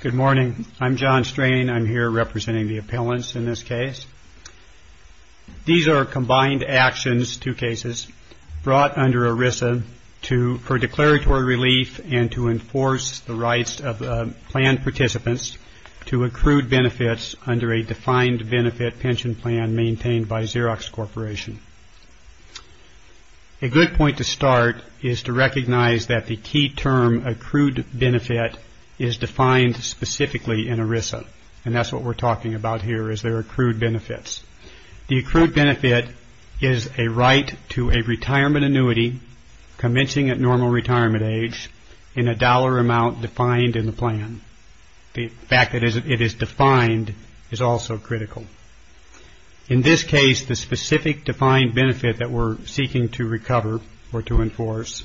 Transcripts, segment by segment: Good morning. I'm John Strain. I'm here representing the appellants in this case. These are combined actions, two cases, brought under ERISA for declaratory relief and to enforce the rights of plan participants to accrued benefits under a defined benefit pension plan maintained by Xerox Corporation. A good point to start is to recognize that the key term accrued benefit is defined specifically in ERISA and that's what we're talking about here is there are accrued benefits. The accrued benefit is a right to a retirement annuity commencing at normal retirement age in a dollar amount defined in the plan. The fact that it is defined is also critical. In this case, the specific defined benefit that we're seeking to recover or to enforce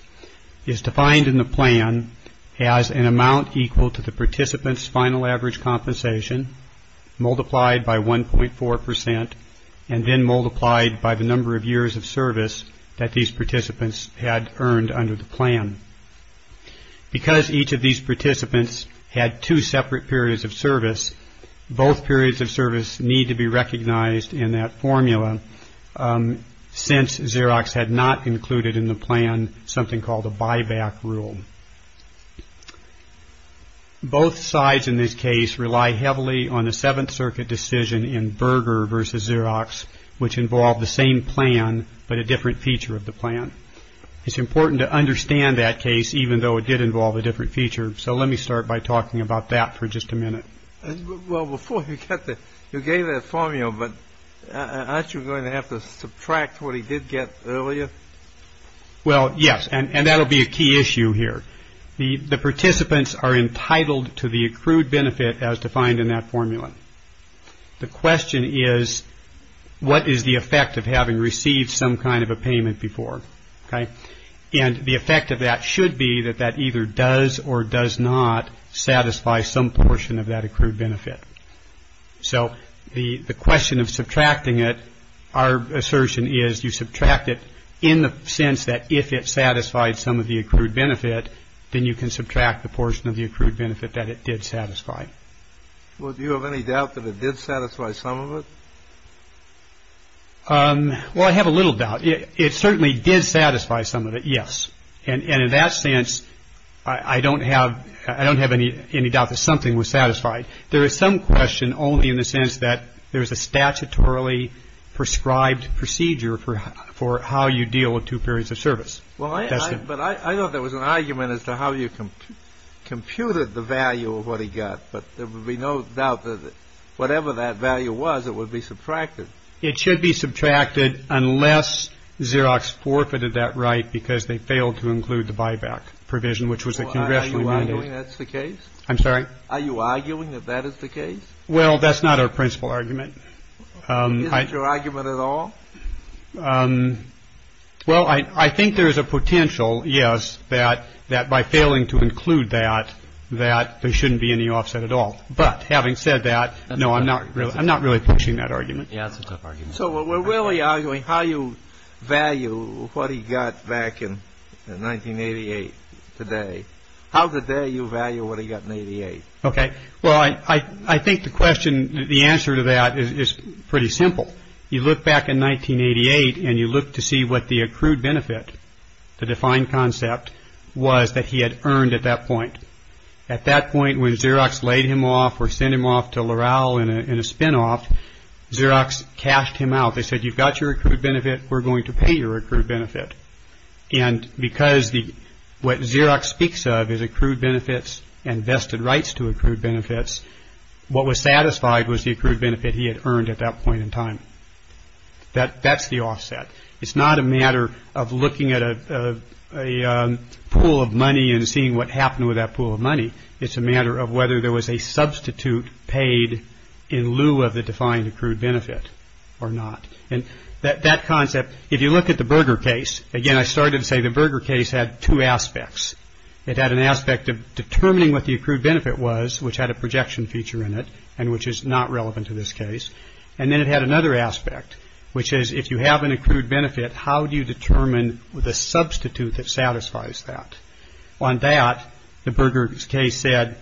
is defined in the plan as an amount equal to the participant's final average compensation multiplied by 1.4% and then multiplied by the number of years of service that these participants had earned under the plan. Because each of these participants had two separate periods of service, both periods of service need to be recognized in that formula since Xerox had not included in the plan something called a buyback rule. Both sides in this case rely heavily on the Seventh Circuit decision in Berger v. Xerox which involved the same plan but a different feature of the plan. It's important to understand that case even though it did involve a different feature, so let me start by talking about that for just a minute. Well, before you get there, you gave that formula, but aren't you going to have to subtract what he did get earlier? Well, yes, and that will be a key issue here. The participants are entitled to the accrued benefit as defined in that formula. The question is what is the effect of having received some kind of a payment before, okay? And the effect of that should be that that either does or does not satisfy some portion of that accrued benefit. So the question of subtracting it, our assertion is you subtract it in the sense that if it satisfied some of the accrued benefit, then you can subtract the portion of the accrued benefit that it did satisfy. Well, do you have any doubt that it did satisfy some of it? Well, I have a little doubt. It certainly did satisfy some of it, yes. And in that sense, I don't have any doubt that something was satisfied. There is some question only in the sense that there is a statutorily prescribed procedure for how you deal with two periods of service. But I thought there was an argument as to how you computed the value of what he got, but there would be no doubt that whatever that value was, it would be subtracted. It should be subtracted unless Xerox forfeited that right because they failed to include the buyback provision, which was a congressional amendment. Are you arguing that's the case? I'm sorry? Are you arguing that that is the case? Well, that's not our principal argument. Isn't your argument at all? Well, I think there is a potential, yes, that by failing to include that, that there shouldn't be any offset at all. But having said that, no, I'm not really pushing that argument. Yeah, it's a tough argument. So we're really arguing how you value what he got back in 1988 today. How dare you value what he got in 88? OK, well, I think the question, the answer to that is pretty simple. You look back in 1988 and you look to see what the accrued benefit, the defined concept was that he had earned at that point. At that point, when Xerox laid him off or send him off to Laurel in a spinoff, Xerox cashed him out. They said, you've got your accrued benefit. We're going to pay your accrued benefit. And because the what Xerox speaks of is accrued benefits and vested rights to accrued benefits. What was satisfied was the accrued benefit he had earned at that point in time. That that's the offset. It's not a matter of looking at a pool of money and seeing what happened with that pool of money. It's a matter of whether there was a substitute paid in lieu of the defined accrued benefit or not. And that concept, if you look at the burger case again, I started to say the burger case had two aspects. It had an aspect of determining what the accrued benefit was, which had a projection feature in it and which is not relevant to this case. And then it had another aspect, which is if you have an accrued benefit, how do you determine the substitute that satisfies that on that? The burger case said,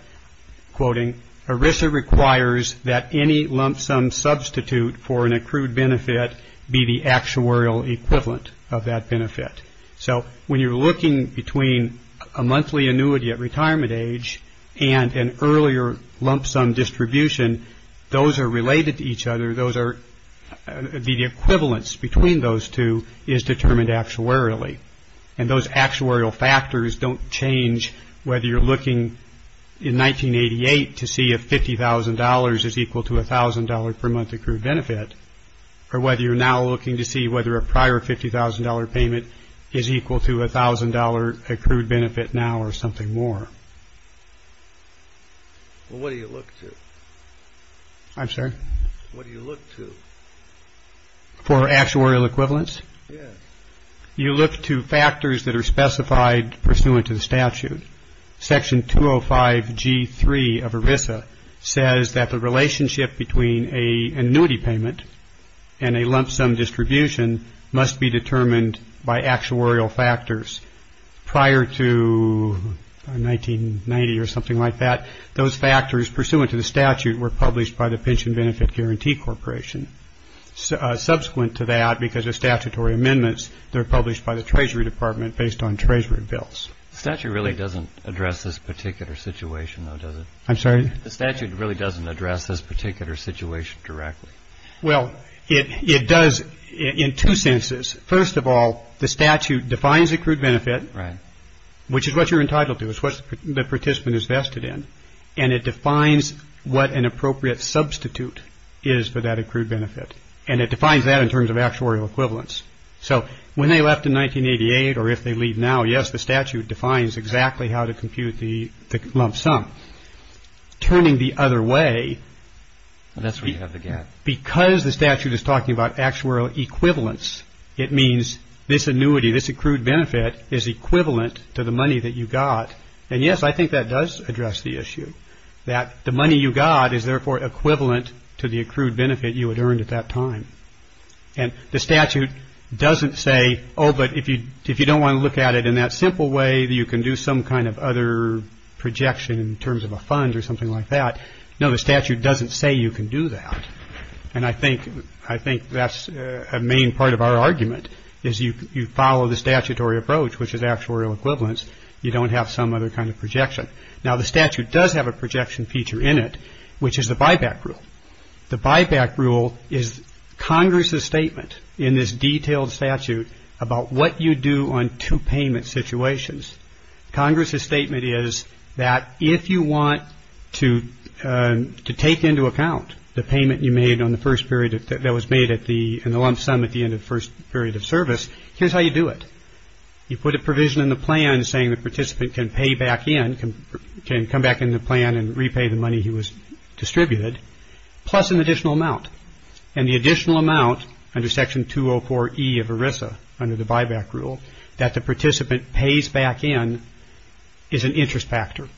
quoting Arisa, requires that any lump sum substitute for an accrued benefit be the actuarial equivalent of that benefit. So when you're looking between a monthly annuity at retirement age and an earlier lump sum distribution, those are related to each other. Those are the equivalence between those two is determined actuarially. And those actuarial factors don't change whether you're looking in 1988 to see if $50,000 is equal to $1,000 per month accrued benefit, or whether you're now looking to see whether a prior $50,000 payment is equal to $1,000 accrued benefit now or something more. Well, what do you look to? I'm sorry? What do you look to? For actuarial equivalence? Yes. You look to factors that are specified pursuant to the statute. Section 205G3 of Arisa says that the relationship between an annuity payment and a lump sum distribution must be determined by actuarial factors. Prior to 1990 or something like that, those factors pursuant to the statute were published by the Pension Benefit Guarantee Corporation. Subsequent to that, because of statutory amendments, they're published by the Treasury Department based on Treasury bills. The statute really doesn't address this particular situation, though, does it? I'm sorry? The statute really doesn't address this particular situation directly. Well, it does in two senses. First of all, the statute defines accrued benefit. Right. Which is what you're entitled to. It's what the participant is vested in. And it defines what an appropriate substitute is for that accrued benefit. And it defines that in terms of actuarial equivalence. So when they left in 1988 or if they leave now, yes, the statute defines exactly how to compute the lump sum. Turning the other way. That's where you have the gap. Because the statute is talking about actuarial equivalence, it means this annuity, this accrued benefit is equivalent to the money that you got. And yes, I think that does address the issue, that the money you got is therefore equivalent to the accrued benefit you had earned at that time. And the statute doesn't say, oh, but if you don't want to look at it in that simple way, you can do some kind of other projection in terms of a fund or something like that. No, the statute doesn't say you can do that. And I think I think that's a main part of our argument is you follow the statutory approach, which is actuarial equivalence. You don't have some other kind of projection. Now, the statute does have a projection feature in it, which is the buyback rule. The buyback rule is Congress's statement in this detailed statute about what you do on two payment situations. Congress's statement is that if you want to take into account the payment you made on the first period that was made at the end, the lump sum at the end of the first period of service, here's how you do it. You put a provision in the plan saying the participant can pay back in, can come back in the plan and repay the money he was distributed. Plus an additional amount and the additional amount under Section 204 E of ERISA under the buyback rule that the participant pays back in is an interest factor,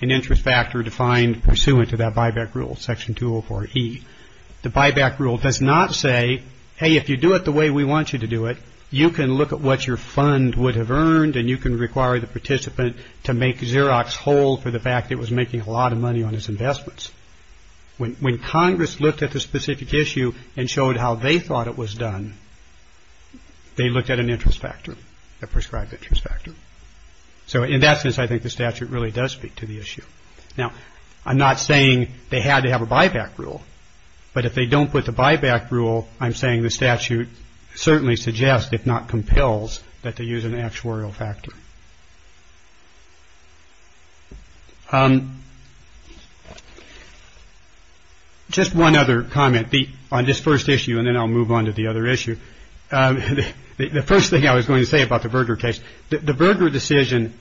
an interest factor defined pursuant to that buyback rule, Section 204 E. The buyback rule does not say, hey, if you do it the way we want you to do it, you can look at what your fund would have earned and you can require the participant to make Xerox whole for the fact it was making a lot of money on his investments. When Congress looked at the specific issue and showed how they thought it was done, they looked at an interest factor, a prescribed interest factor. So in that sense, I think the statute really does speak to the issue. Now, I'm not saying they had to have a buyback rule, but if they don't put the buyback rule, I'm saying the statute certainly suggests, if not compels, that they use an actuarial factor. Just one other comment on this first issue and then I'll move on to the other issue. The first thing I was going to say about the Berger case, the Berger decision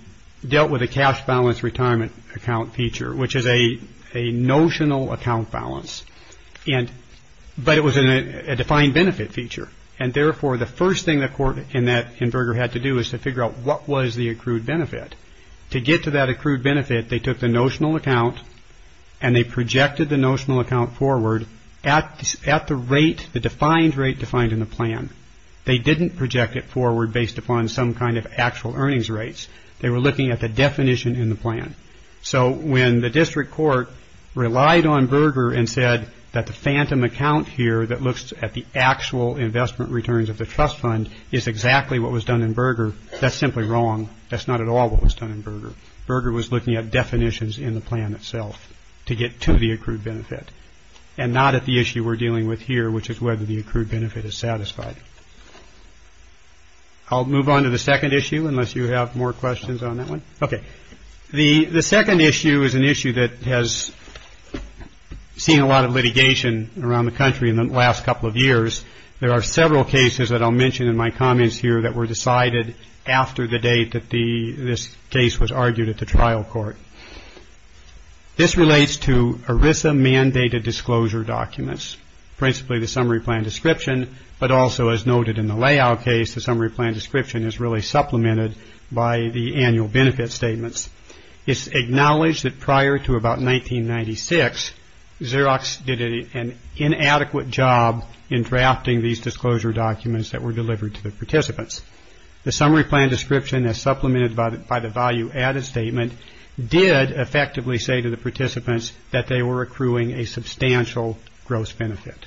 dealt with a cash balance retirement account feature, which is a notional account balance. But it was a defined benefit feature. And therefore, the first thing the court in Berger had to do was to figure out what was the accrued benefit. To get to that accrued benefit, they took the notional account and they projected the notional account forward at the rate, the defined rate defined in the plan. They didn't project it forward based upon some kind of actual earnings rates. They were looking at the definition in the plan. So when the district court relied on Berger and said that the phantom account here that looks at the actual investment returns of the trust fund is exactly what was done in Berger, that's simply wrong. That's not at all what was done in Berger. Berger was looking at definitions in the plan itself to get to the accrued benefit and not at the issue we're dealing with here, which is whether the accrued benefit is satisfied. I'll move on to the second issue unless you have more questions on that one. Okay. The second issue is an issue that has seen a lot of litigation around the country in the last couple of years. There are several cases that I'll mention in my comments here that were decided after the date that this case was argued at the trial court. This relates to ERISA mandated disclosure documents, principally the summary plan description, but also as noted in the layout case, the summary plan description is really supplemented by the annual benefit statements. It's acknowledged that prior to about 1996, Xerox did an inadequate job in drafting these disclosure documents that were delivered to the participants. The summary plan description, as supplemented by the value added statement, did effectively say to the participants that they were accruing a substantial gross benefit.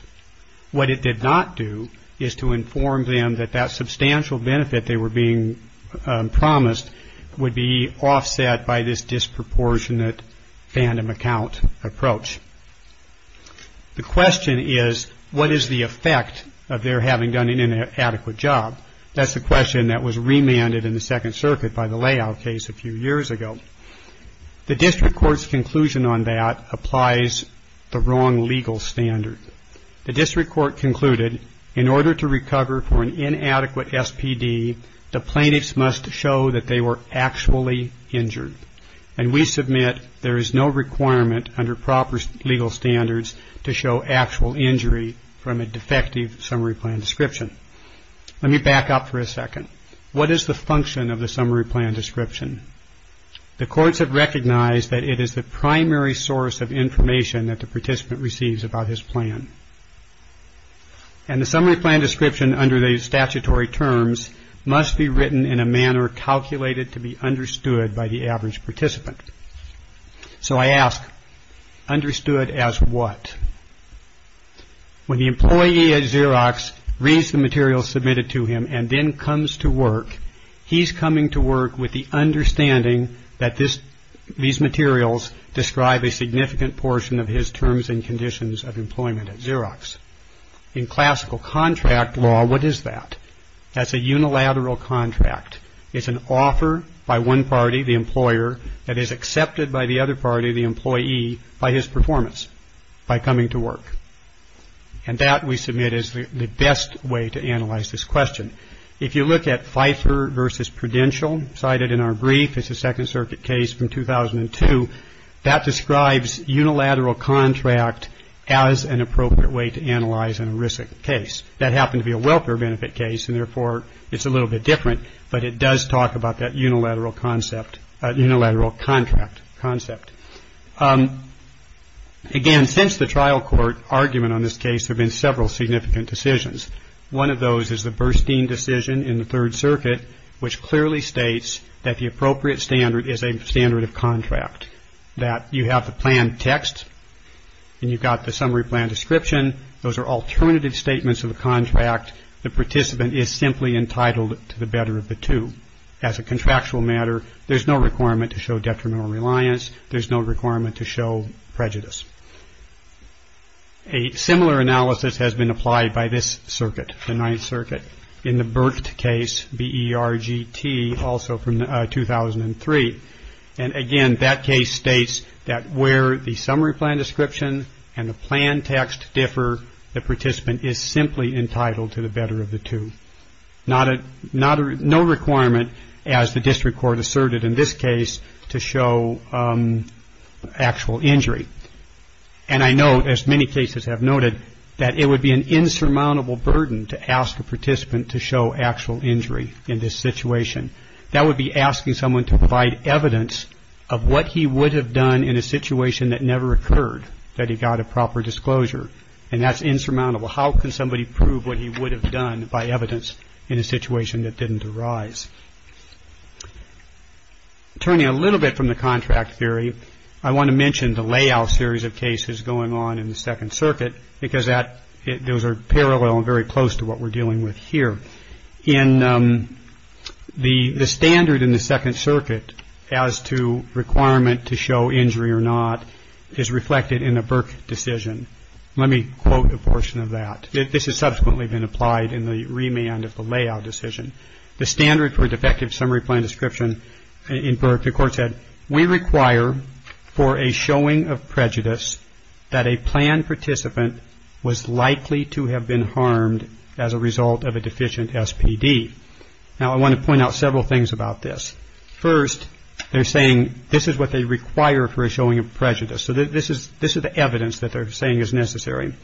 What it did not do is to inform them that that substantial benefit they were being promised would be offset by this disproportionate fandom account approach. The question is, what is the effect of their having done an inadequate job? That's the question that was remanded in the Second Circuit by the layout case a few years ago. The district court's conclusion on that applies the wrong legal standard. The district court concluded in order to recover for an inadequate SPD, the plaintiffs must show that they were actually injured. And we submit there is no requirement under proper legal standards to show actual injury from a defective summary plan description. Let me back up for a second. What is the function of the summary plan description? The courts have recognized that it is the primary source of information that the participant receives about his plan. And the summary plan description under the statutory terms must be written in a manner calculated to be understood by the average participant. So I ask, understood as what? When the employee at Xerox reads the material submitted to him and then comes to work, he's coming to work with the understanding that this these materials describe a significant portion of his terms and conditions of employment at Xerox. In classical contract law, what is that? That's a unilateral contract. It's an offer by one party, the employer, that is accepted by the other party, the employee, by his performance, by coming to work. And that, we submit, is the best way to analyze this question. If you look at Pfeiffer v. Prudential, cited in our brief, it's a Second Circuit case from 2002. That describes unilateral contract as an appropriate way to analyze a risk case. That happened to be a welfare benefit case, and therefore it's a little bit different, but it does talk about that unilateral contract concept. Again, since the trial court argument on this case, there have been several significant decisions. One of those is the Burstein decision in the Third Circuit, which clearly states that the appropriate standard is a standard of contract, that you have the plan text and you've got the summary plan description. Those are alternative statements of a contract. The participant is simply entitled to the better of the two. As a contractual matter, there's no requirement to show detrimental reliance. There's no requirement to show prejudice. A similar analysis has been applied by this circuit, the Ninth Circuit, in the Burt case, B-E-R-G-T, also from 2003. And again, that case states that where the summary plan description and the plan text differ, the participant is simply entitled to the better of the two. No requirement, as the district court asserted in this case, to show actual injury. And I note, as many cases have noted, that it would be an insurmountable burden to ask a participant to show actual injury in this situation. That would be asking someone to provide evidence of what he would have done in a situation that never occurred, that he got a proper disclosure. And that's insurmountable. How can somebody prove what he would have done by evidence in a situation that didn't arise? Turning a little bit from the contract theory, I want to mention the layout series of cases going on in the Second Circuit, because those are parallel and very close to what we're dealing with here. The standard in the Second Circuit as to requirement to show injury or not is reflected in the Burke decision. Let me quote a portion of that. This has subsequently been applied in the remand of the layout decision. The standard for defective summary plan description in Burke, the court said, we require for a showing of prejudice that a plan participant was likely to have been harmed as a result of a deficient SPD. Now, I want to point out several things about this. First, they're saying this is what they require for a showing of prejudice. So this is the evidence that they're saying is necessary.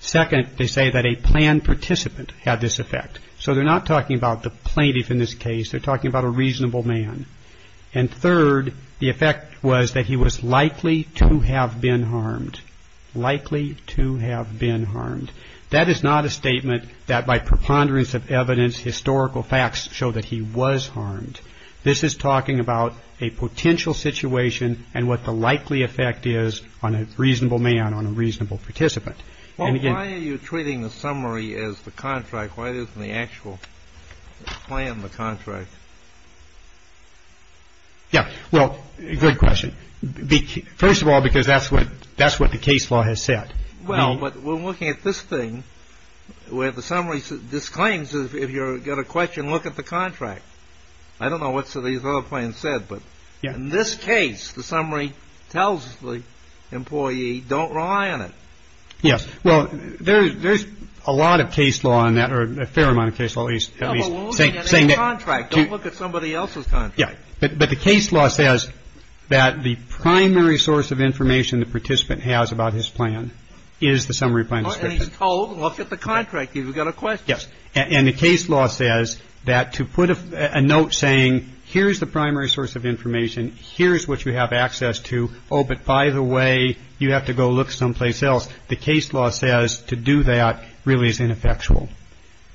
Second, they say that a plan participant had this effect. So they're not talking about the plaintiff in this case. They're talking about a reasonable man. And third, the effect was that he was likely to have been harmed, likely to have been harmed. That is not a statement that by preponderance of evidence, historical facts show that he was harmed. This is talking about a potential situation and what the likely effect is on a reasonable man, on a reasonable participant. Well, why are you treating the summary as the contract? Why isn't the actual plan the contract? Yeah, well, good question. First of all, because that's what the case law has said. Well, but we're looking at this thing where the summary disclaims if you've got a question, look at the contract. I don't know what these other plans said, but in this case, the summary tells the employee don't rely on it. Yes. Well, there's a lot of case law on that, or a fair amount of case law, at least. But we're looking at a contract. Don't look at somebody else's contract. Yeah. But the case law says that the primary source of information the participant has about his plan is the summary plan description. And he's been told, look at the contract. You've got a question. Yes. And the case law says that to put a note saying here's the primary source of information, here's what you have access to. Oh, but by the way, you have to go look someplace else. The case law says to do that really is ineffectual.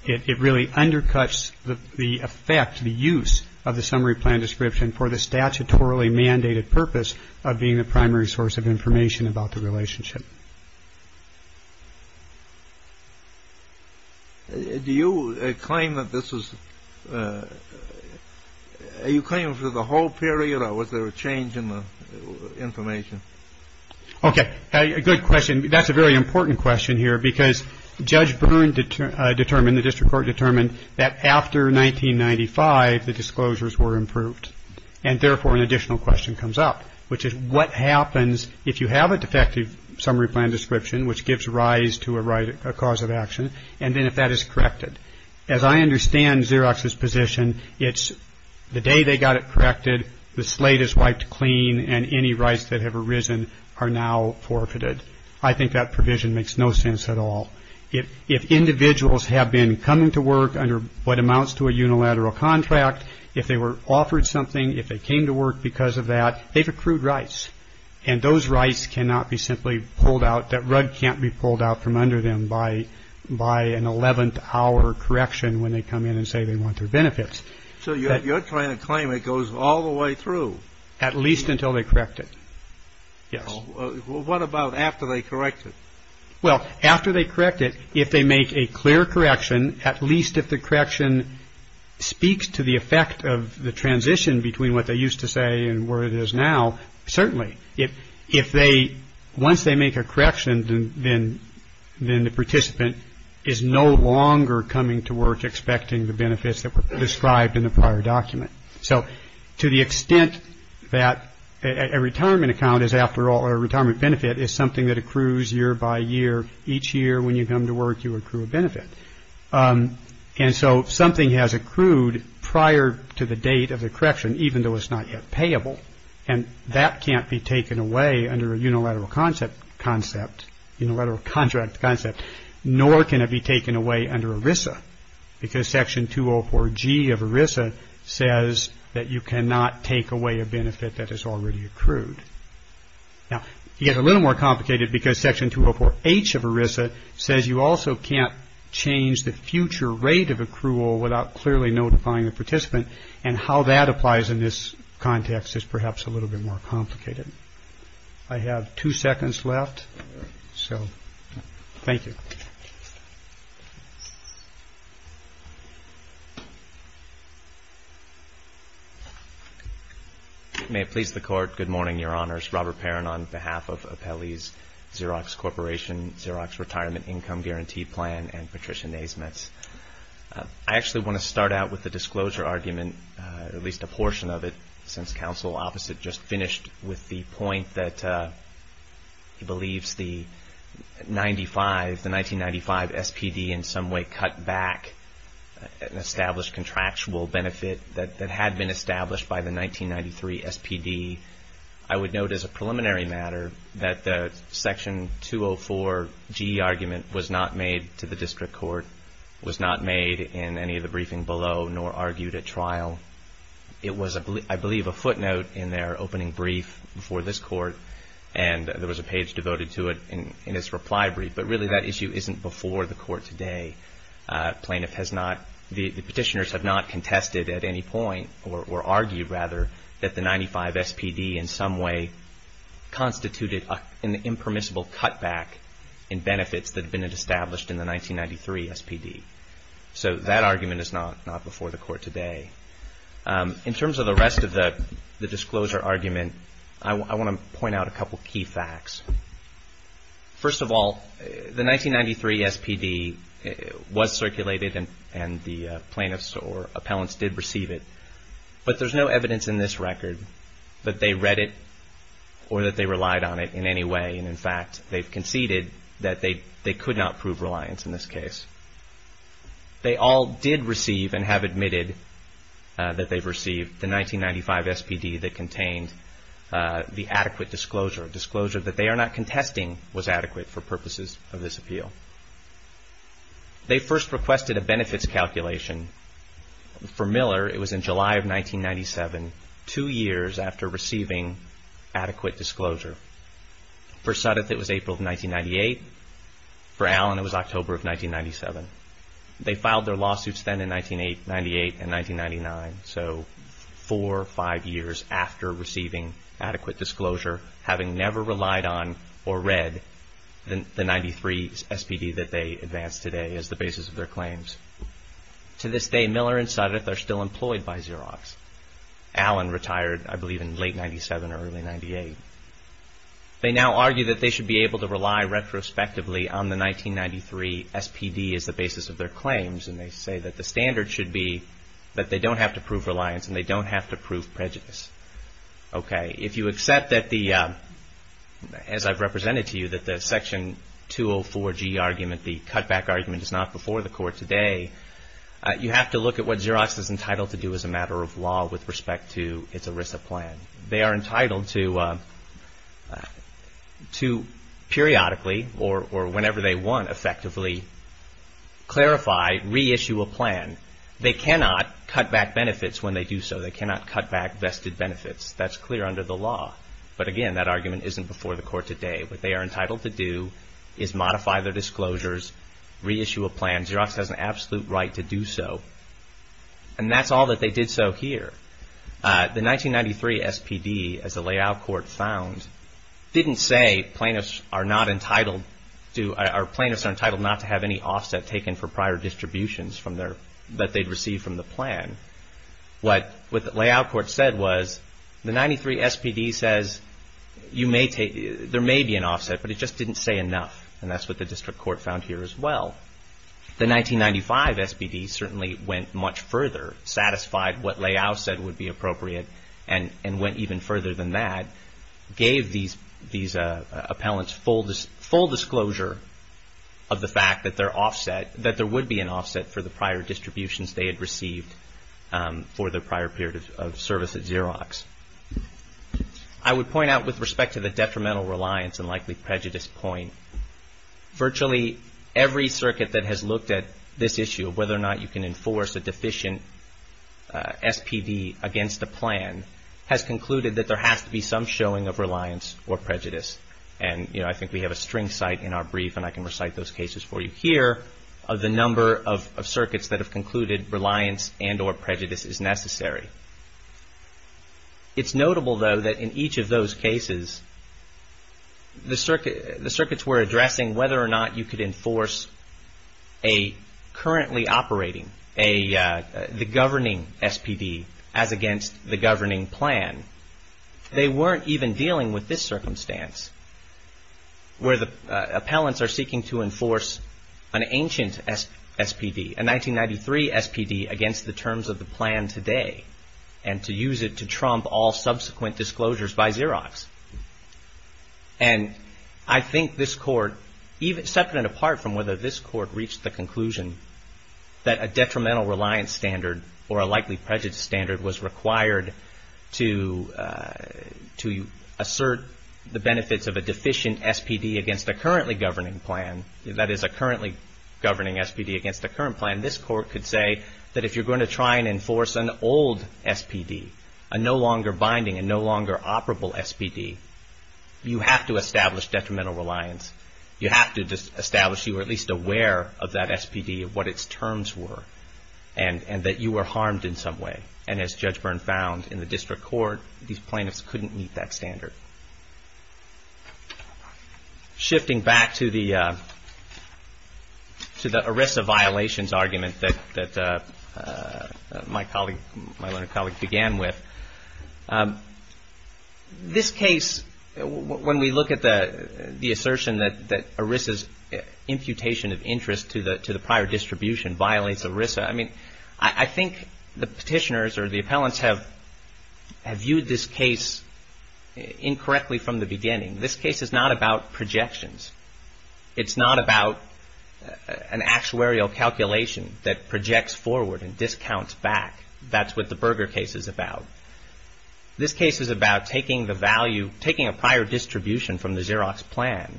It really undercuts the effect, the use of the summary plan description for the statutorily mandated purpose of being the primary source of information about the relationship. Do you claim that this is you claim for the whole period or was there a change in the information? OK. Good question. That's a very important question here, because Judge Byrne determined the district court determined that after 1995, the disclosures were improved and therefore an additional question comes up, which is what happens if you have a defective summary plan description? Which gives rise to a right, a cause of action. And then if that is corrected, as I understand Xerox's position, it's the day they got it corrected. The slate is wiped clean and any rights that have arisen are now forfeited. I think that provision makes no sense at all. If individuals have been coming to work under what amounts to a unilateral contract, if they were offered something, if they came to work because of that, they've accrued rights and those rights cannot be simply pulled out. That rug can't be pulled out from under them by by an 11th hour correction when they come in and say they want their benefits. So you're trying to claim it goes all the way through at least until they correct it. Yes. What about after they correct it? Well, after they correct it, if they make a clear correction, at least if the correction speaks to the effect of the transition between what they used to say and where it is now. Certainly if if they once they make a correction, then then then the participant is no longer coming to work expecting the benefits that were described in the prior document. So to the extent that a retirement account is after all, a retirement benefit is something that accrues year by year. Each year when you come to work, you accrue a benefit. And so something has accrued prior to the date of the correction, even though it's not yet payable. And that can't be taken away under a unilateral concept, concept, unilateral contract concept. Nor can it be taken away under ERISA because Section 204G of ERISA says that you cannot take away a benefit that is already accrued. Now, you get a little more complicated because Section 204H of ERISA says you also can't change the future rate of accrual without clearly notifying the participant. And how that applies in this context is perhaps a little bit more complicated. I have two seconds left. So thank you. May it please the Court. Good morning, Your Honors. Robert Perrin on behalf of Apelli's Xerox Corporation Xerox Retirement Income Guaranteed Plan and Patricia Naismith. I actually want to start out with the disclosure argument, at least a portion of it, since Counsel Opposite just finished with the point that he believes the 1995 SPD in some way cut back an established contractual benefit that had been established by the 1993 SPD. I would note as a preliminary matter that the Section 204G argument was not made to the District Court, was not made in any of the briefing below, nor argued at trial. It was, I believe, a footnote in their opening brief before this Court, and there was a page devoted to it in its reply brief. But really, that issue isn't before the Court today. The petitioners have not contested at any point, or argued rather, that the 1995 SPD in some way constituted an impermissible cut back in benefits that had been established in the 1993 SPD. So that argument is not before the Court today. In terms of the rest of the disclosure argument, I want to point out a couple of key facts. First of all, the 1993 SPD was circulated and the plaintiffs or appellants did receive it, but there's no evidence in this record that they read it or that they relied on it in any way. And in fact, they've conceded that they could not prove reliance in this case. They all did receive and have admitted that they've received the 1995 SPD that contained the adequate disclosure. Disclosure that they are not contesting was adequate for purposes of this appeal. They first requested a benefits calculation. For Miller, it was in July of 1997, two years after receiving adequate disclosure. For Suttoth, it was April of 1998. For Allen, it was October of 1997. They filed their lawsuits then in 1998 and 1999, so four or five years after receiving adequate disclosure, having never relied on or read the 93 SPD that they advanced today as the basis of their claims. To this day, Miller and Suttoth are still employed by Xerox. Allen retired, I believe, in late 1997 or early 1998. They now argue that they should be able to rely retrospectively on the 1993 SPD as the basis of their claims. And they say that the standard should be that they don't have to prove reliance and they don't have to prove prejudice. Okay. If you accept that the, as I've represented to you, that the section 204G argument, the cutback argument, is not before the court today, you have to look at what Xerox is entitled to do as a matter of law with respect to its ERISA plan. They are entitled to periodically or whenever they want, effectively, clarify, reissue a plan. They cannot cut back benefits when they do so. They cannot cut back vested benefits. That's clear under the law. But again, that argument isn't before the court today. What they are entitled to do is modify their disclosures, reissue a plan. Xerox has an absolute right to do so. And that's all that they did so here. The 1993 SPD, as the layout court found, didn't say plaintiffs are not entitled to, or plaintiffs are entitled not to have any offset taken for prior distributions from their, that they'd received from the plan. What the layout court said was the 93 SPD says you may take, there may be an offset, but it just didn't say enough. And that's what the district court found here as well. The 1995 SPD certainly went much further, satisfied what layout said would be appropriate, and went even further than that. Gave these appellants full disclosure of the fact that there would be an offset for the prior distributions they had received for the prior period of service at Xerox. I would point out with respect to the detrimental reliance and likely prejudice point, virtually every circuit that has looked at this issue of whether or not you can enforce a deficient SPD against a plan has concluded that there has to be some showing of reliance or prejudice. And, you know, I think we have a string cite in our brief, and I can recite those cases for you. Here are the number of circuits that have concluded reliance and or prejudice is necessary. It's notable, though, that in each of those cases, the circuits were addressing whether or not you could enforce a currently operating, the governing SPD as against the governing plan. They weren't even dealing with this circumstance where the appellants are seeking to enforce an ancient SPD, a 1993 SPD against the terms of the plan today and to use it to trump all subsequent disclosures by Xerox. And I think this court, separate and apart from whether this court reached the conclusion that a detrimental reliance standard or a likely prejudice standard was required to assert the benefits of a deficient SPD against a currently governing plan, that is a currently governing SPD against a current plan, this court could say that if you're going to try and enforce an old SPD, a no longer binding, a no longer operable SPD, you have to establish detrimental reliance. You have to establish you were at least aware of that SPD, of what its terms were, and that you were harmed in some way. And as Judge Byrne found in the district court, these plaintiffs couldn't meet that standard. Shifting back to the ERISA violations argument that my colleague, my learned colleague, began with, this case, when we look at the assertion that ERISA's imputation of interest to the prior distribution violates ERISA, I mean, I think the petitioners or the appellants have viewed this case in terms of the fact that there is a violation of ERISA. If I'm reading correctly from the beginning, this case is not about projections. It's not about an actuarial calculation that projects forward and discounts back. That's what the Berger case is about. This case is about taking the value, taking a prior distribution from the Xerox plan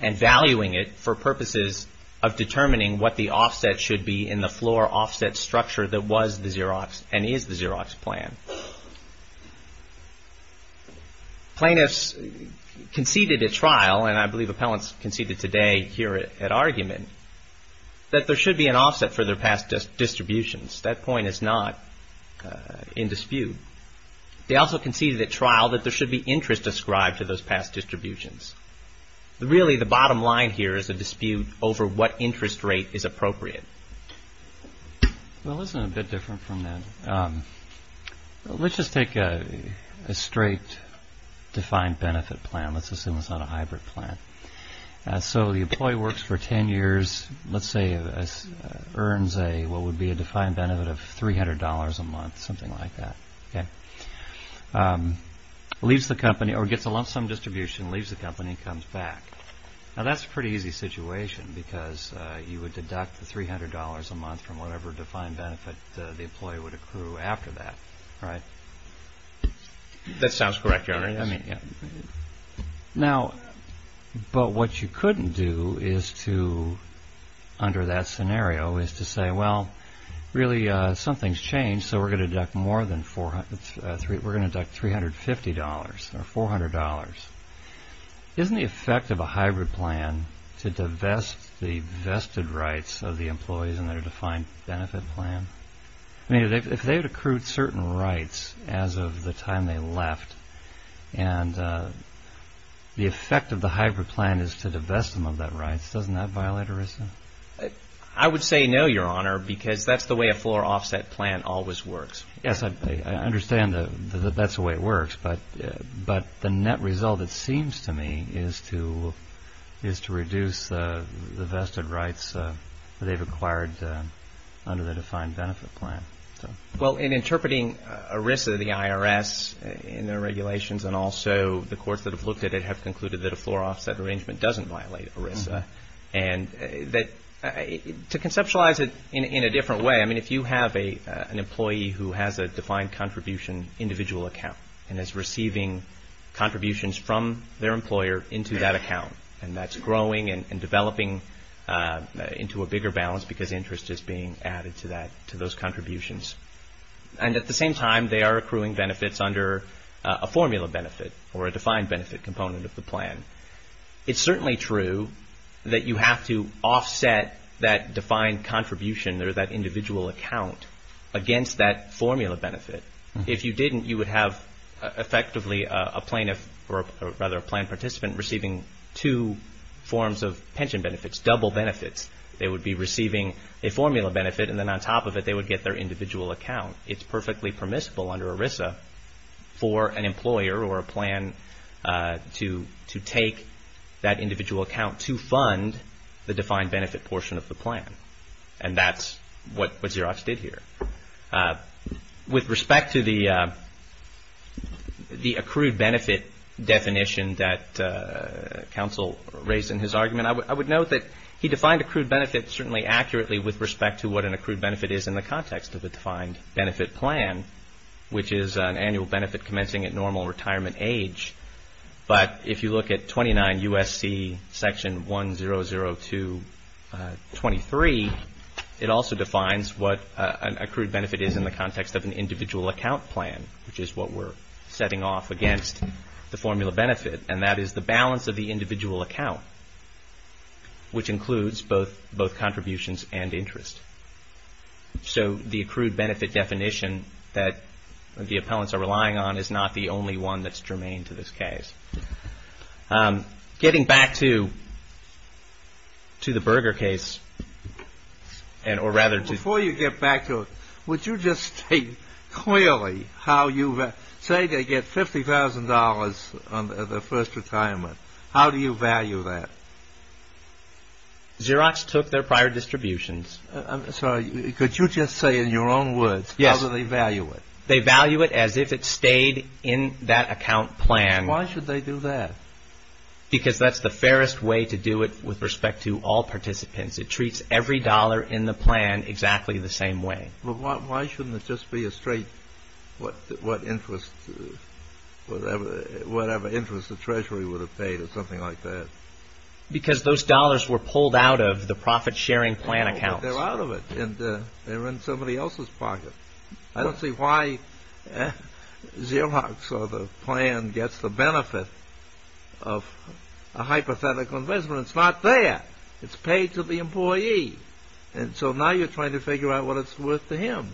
and valuing it for purposes of determining what the offset should be in the floor offset structure that was the Xerox and is the Xerox plan. Plaintiffs conceded at trial, and I believe appellants conceded today here at argument, that there should be an offset for their past distributions. That point is not in dispute. They also conceded at trial that there should be interest ascribed to those past distributions. Really, the bottom line here is a dispute over what interest rate is appropriate. Well, this is a bit different from that. Let's just take a straight defined benefit plan. Let's assume it's not a hybrid plan. So the employee works for 10 years, let's say earns what would be a defined benefit of $300 a month, something like that. Leaves the company or gets a lump sum distribution, leaves the company and comes back. Now, that's a pretty easy situation because you would deduct the $300 a month from whatever defined benefit the employee would accrue after that, right? That sounds correct, Your Honor. Now, but what you couldn't do under that scenario is to say, well, really something's changed, so we're going to deduct more than $350 or $400. Isn't the effect of a hybrid plan to divest the vested rights of the employees in their defined benefit plan? I mean, if they had accrued certain rights as of the time they left and the effect of the hybrid plan is to divest them of that rights, doesn't that violate ERISA? I would say no, Your Honor, because that's the way a floor offset plan always works. Yes, I understand that that's the way it works, but the net result, it seems to me, is to reduce the vested rights that they've acquired under the defined benefit plan. Well, in interpreting ERISA, the IRS in their regulations and also the courts that have looked at it have concluded that a floor offset arrangement doesn't violate ERISA. To conceptualize it in a different way, I mean, if you have an employee who has a defined contribution individual account and is receiving contributions from their employer into that account, and that's growing and developing into a bigger balance because interest is being added to those contributions, and at the same time they are accruing benefits under a formula benefit or a defined benefit component of the plan, it's certainly true that you have to offset that defined contribution or that individual account against that formula benefit. If you didn't, you would have effectively a plaintiff or rather a plan participant receiving two forms of pension benefits, double benefits. They would be receiving a formula benefit, and then on top of it, they would get their individual account. It's perfectly permissible under ERISA for an employer or a plan to take that individual account to fund the defined benefit portion of the plan, and that's what Xerox did here. With respect to the accrued benefit definition that counsel raised in his argument, I would note that he defined accrued benefit certainly accurately with respect to what an accrued benefit is in the context of a defined benefit plan, which is an annual benefit commencing at normal retirement age, but if you look at 29 U.S.C. section 1002.23, it also defines what an accrued benefit is in the context of an individual account plan, which is what we're setting off against the formula benefit, and that is the balance of the individual account, which includes both contributions and interest. So the accrued benefit definition that the appellants are relying on is not the only one that's germane to this case. Getting back to the Berger case, or rather to... Before you get back to it, would you just state clearly how you say they get $50,000 on their first retirement? How do you value that? Xerox took their prior distributions. I'm sorry, could you just say in your own words how do they value it? They value it as if it stayed in that account plan. Why should they do that? Because that's the fairest way to do it with respect to all participants. It treats every dollar in the plan exactly the same way. Well, why shouldn't it just be a straight whatever interest the Treasury would have paid or something like that? Because those dollars were pulled out of the profit-sharing plan accounts. They're out of it, and they're in somebody else's pocket. I don't see why Xerox or the plan gets the benefit of a hypothetical investment. It's not there. It's paid to the employee. And so now you're trying to figure out what it's worth to him.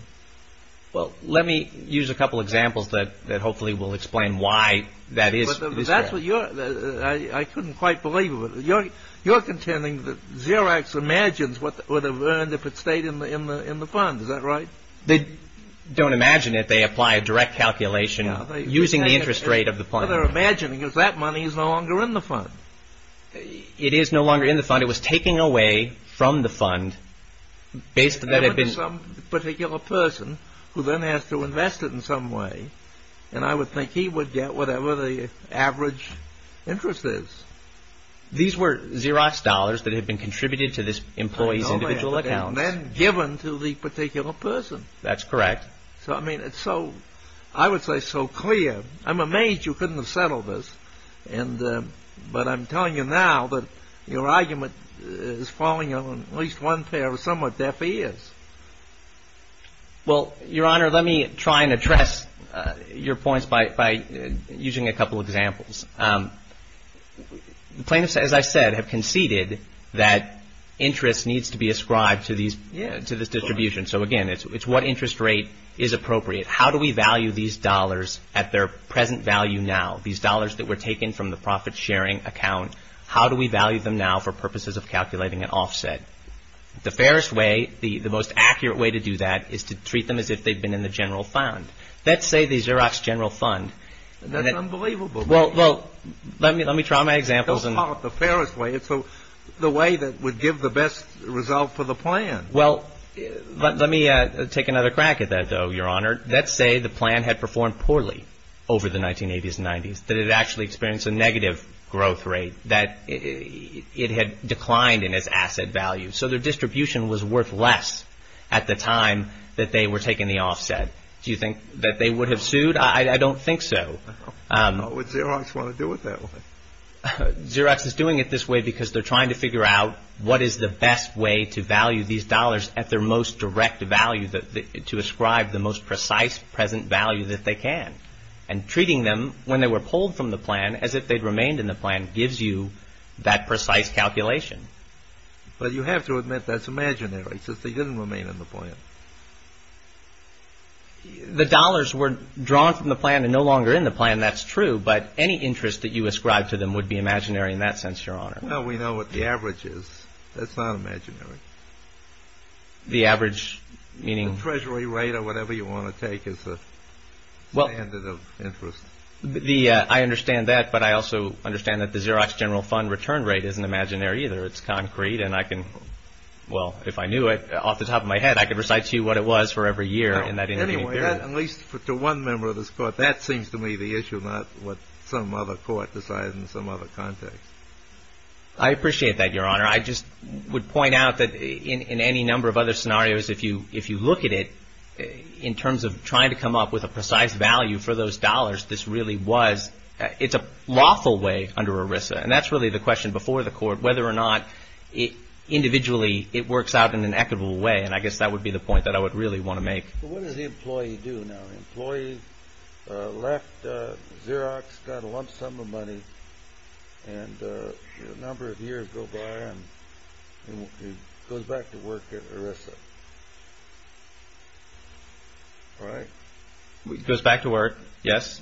Well, let me use a couple examples that hopefully will explain why that is. I couldn't quite believe it. You're contending that Xerox imagines what it would have earned if it stayed in the fund. Is that right? They don't imagine it. They apply a direct calculation using the interest rate of the plan. What they're imagining is that money is no longer in the fund. It is no longer in the fund. It was taken away from the fund based on that it had been... It went to some particular person who then has to invest it in some way, and I would think he would get whatever the average interest is. These were Xerox dollars that had been contributed to this employee's individual accounts. And then given to the particular person. That's correct. So, I mean, it's so, I would say, so clear. I'm amazed you couldn't have settled this. But I'm telling you now that your argument is falling on at least one pair of somewhat deaf ears. Well, Your Honor, let me try and address your points by using a couple examples. Plaintiffs, as I said, have conceded that interest needs to be ascribed to this distribution. So, again, it's what interest rate is appropriate. How do we value these dollars at their present value now? These dollars that were taken from the profit-sharing account, how do we value them now for purposes of calculating an offset? The fairest way, the most accurate way to do that is to treat them as if they've been in the general fund. Let's say the Xerox general fund... That's unbelievable. Well, let me try my examples. That's not the fairest way. It's the way that would give the best result for the plan. Well, let me take another crack at that, though, Your Honor. Let's say the plan had performed poorly over the 1980s and 90s, that it had actually experienced a negative growth rate, that it had declined in its asset value. So their distribution was worth less at the time that they were taking the offset. Do you think that they would have sued? I don't think so. How would Xerox want to do it that way? Xerox is doing it this way because they're trying to figure out what is the best way to value these dollars at their most direct value, to ascribe the most precise present value that they can. And treating them when they were pulled from the plan as if they'd remained in the plan gives you that precise calculation. But you have to admit that's imaginary, since they didn't remain in the plan. The dollars were drawn from the plan and no longer in the plan, that's true, but any interest that you ascribe to them would be imaginary in that sense, Your Honor. No, we know what the average is. That's not imaginary. The average meaning? The treasury rate or whatever you want to take as a standard of interest. I understand that, but I also understand that the Xerox general fund return rate isn't imaginary either. It's concrete, and I can, well, if I knew it off the top of my head, I could recite to you what it was for every year in that intermediate period. At least to one member of this Court, that seems to me the issue, not what some other Court decides in some other context. I appreciate that, Your Honor. I just would point out that in any number of other scenarios, if you look at it in terms of trying to come up with a precise value for those dollars, this really was, it's a lawful way under ERISA, and that's really the question before the Court, whether or not individually it works out in an equitable way, and I guess that would be the point that I would really want to make. But what does the employee do now? The employee left Xerox, got a lump sum of money, and a number of years go by and goes back to work at ERISA, right? Goes back to work, yes.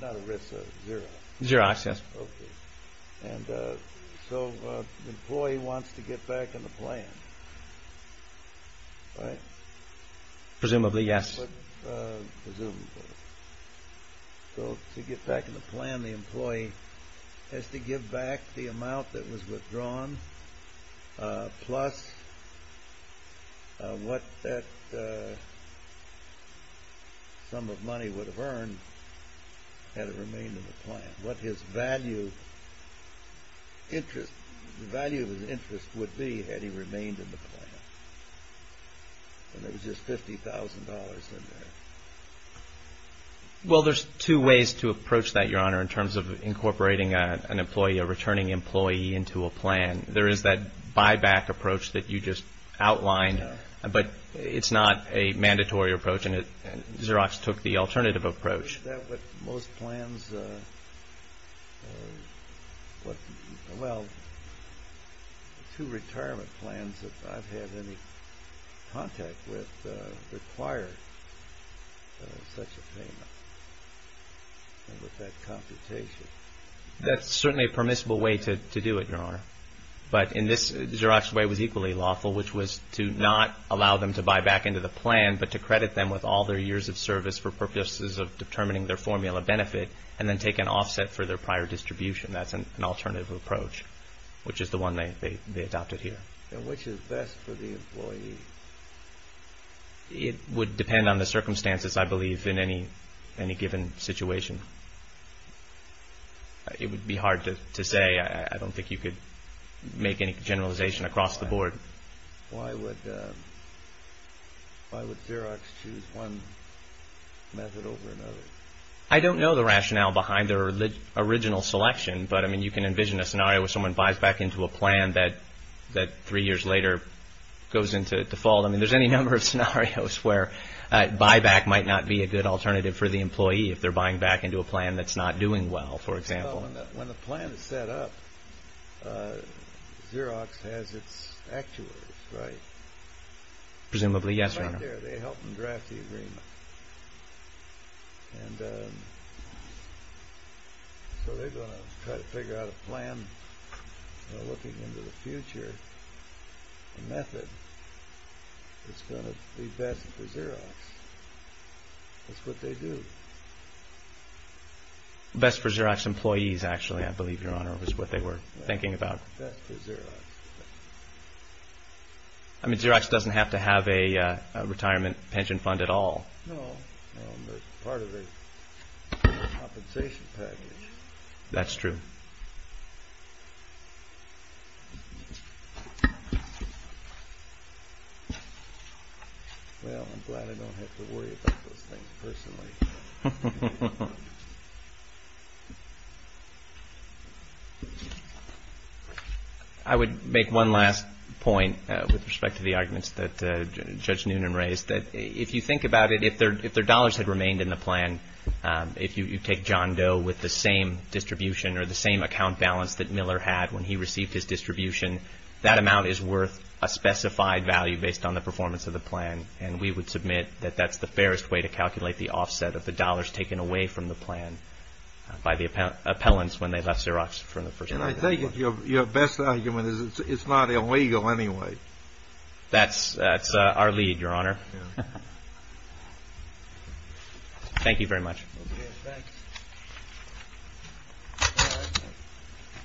Not ERISA, Xerox. Xerox, yes. And so the employee wants to get back in the plan, right? Presumably, yes. Presumably. So to get back in the plan, the employee has to give back the amount that was withdrawn plus what that sum of money would have earned had it remained in the plan, what his value of interest would be had he remained in the plan. And there was just $50,000 in there. Well, there's two ways to approach that, Your Honor, in terms of incorporating an employee, a returning employee into a plan. There is that buyback approach that you just outlined, but it's not a mandatory approach, and Xerox took the alternative approach. Is that what most plans, well, two retirement plans that I've had any contact with, require such a payment with that computation? That's certainly a permissible way to do it, Your Honor. But in this, Xerox's way was equally lawful, which was to not allow them to buy back into the plan, but to credit them with all their years of service for purposes of determining their formula benefit and then take an offset for their prior distribution. That's an alternative approach, which is the one they adopted here. And which is best for the employee? It would depend on the circumstances, I believe, in any given situation. It would be hard to say. I don't think you could make any generalization across the board. Why would Xerox choose one method over another? I don't know the rationale behind their original selection, but, I mean, you can envision a scenario where someone buys back into a plan that three years later goes into default. I mean, there's any number of scenarios where buyback might not be a good alternative for the employee if they're buying back into a plan that's not doing well, for example. Well, when the plan is set up, Xerox has its actuaries, right? Presumably, yes, Your Honor. They're right there. They help them draft the agreement. And so they're going to try to figure out a plan. They're looking into the future method that's going to be best for Xerox. That's what they do. Best for Xerox employees, actually, I believe, Your Honor, is what they were thinking about. Best for Xerox. I mean, Xerox doesn't have to have a retirement pension fund at all. No. They're part of a compensation package. That's true. Well, I'm glad I don't have to worry about those things personally. I would make one last point with respect to the arguments that Judge Noonan raised, that if you think about it, if their dollars had remained in the plan, if you take John Doe with the same distribution or the same account balance that Miller had when he received his distribution, that amount is worth a specified value based on the performance of the plan. And we would submit that that's the fairest way to calculate the offset of the dollars taken away from the plan by the appellants when they left Xerox from the first day. And I think your best argument is it's not illegal anyway. That's our lead, Your Honor. Thank you very much.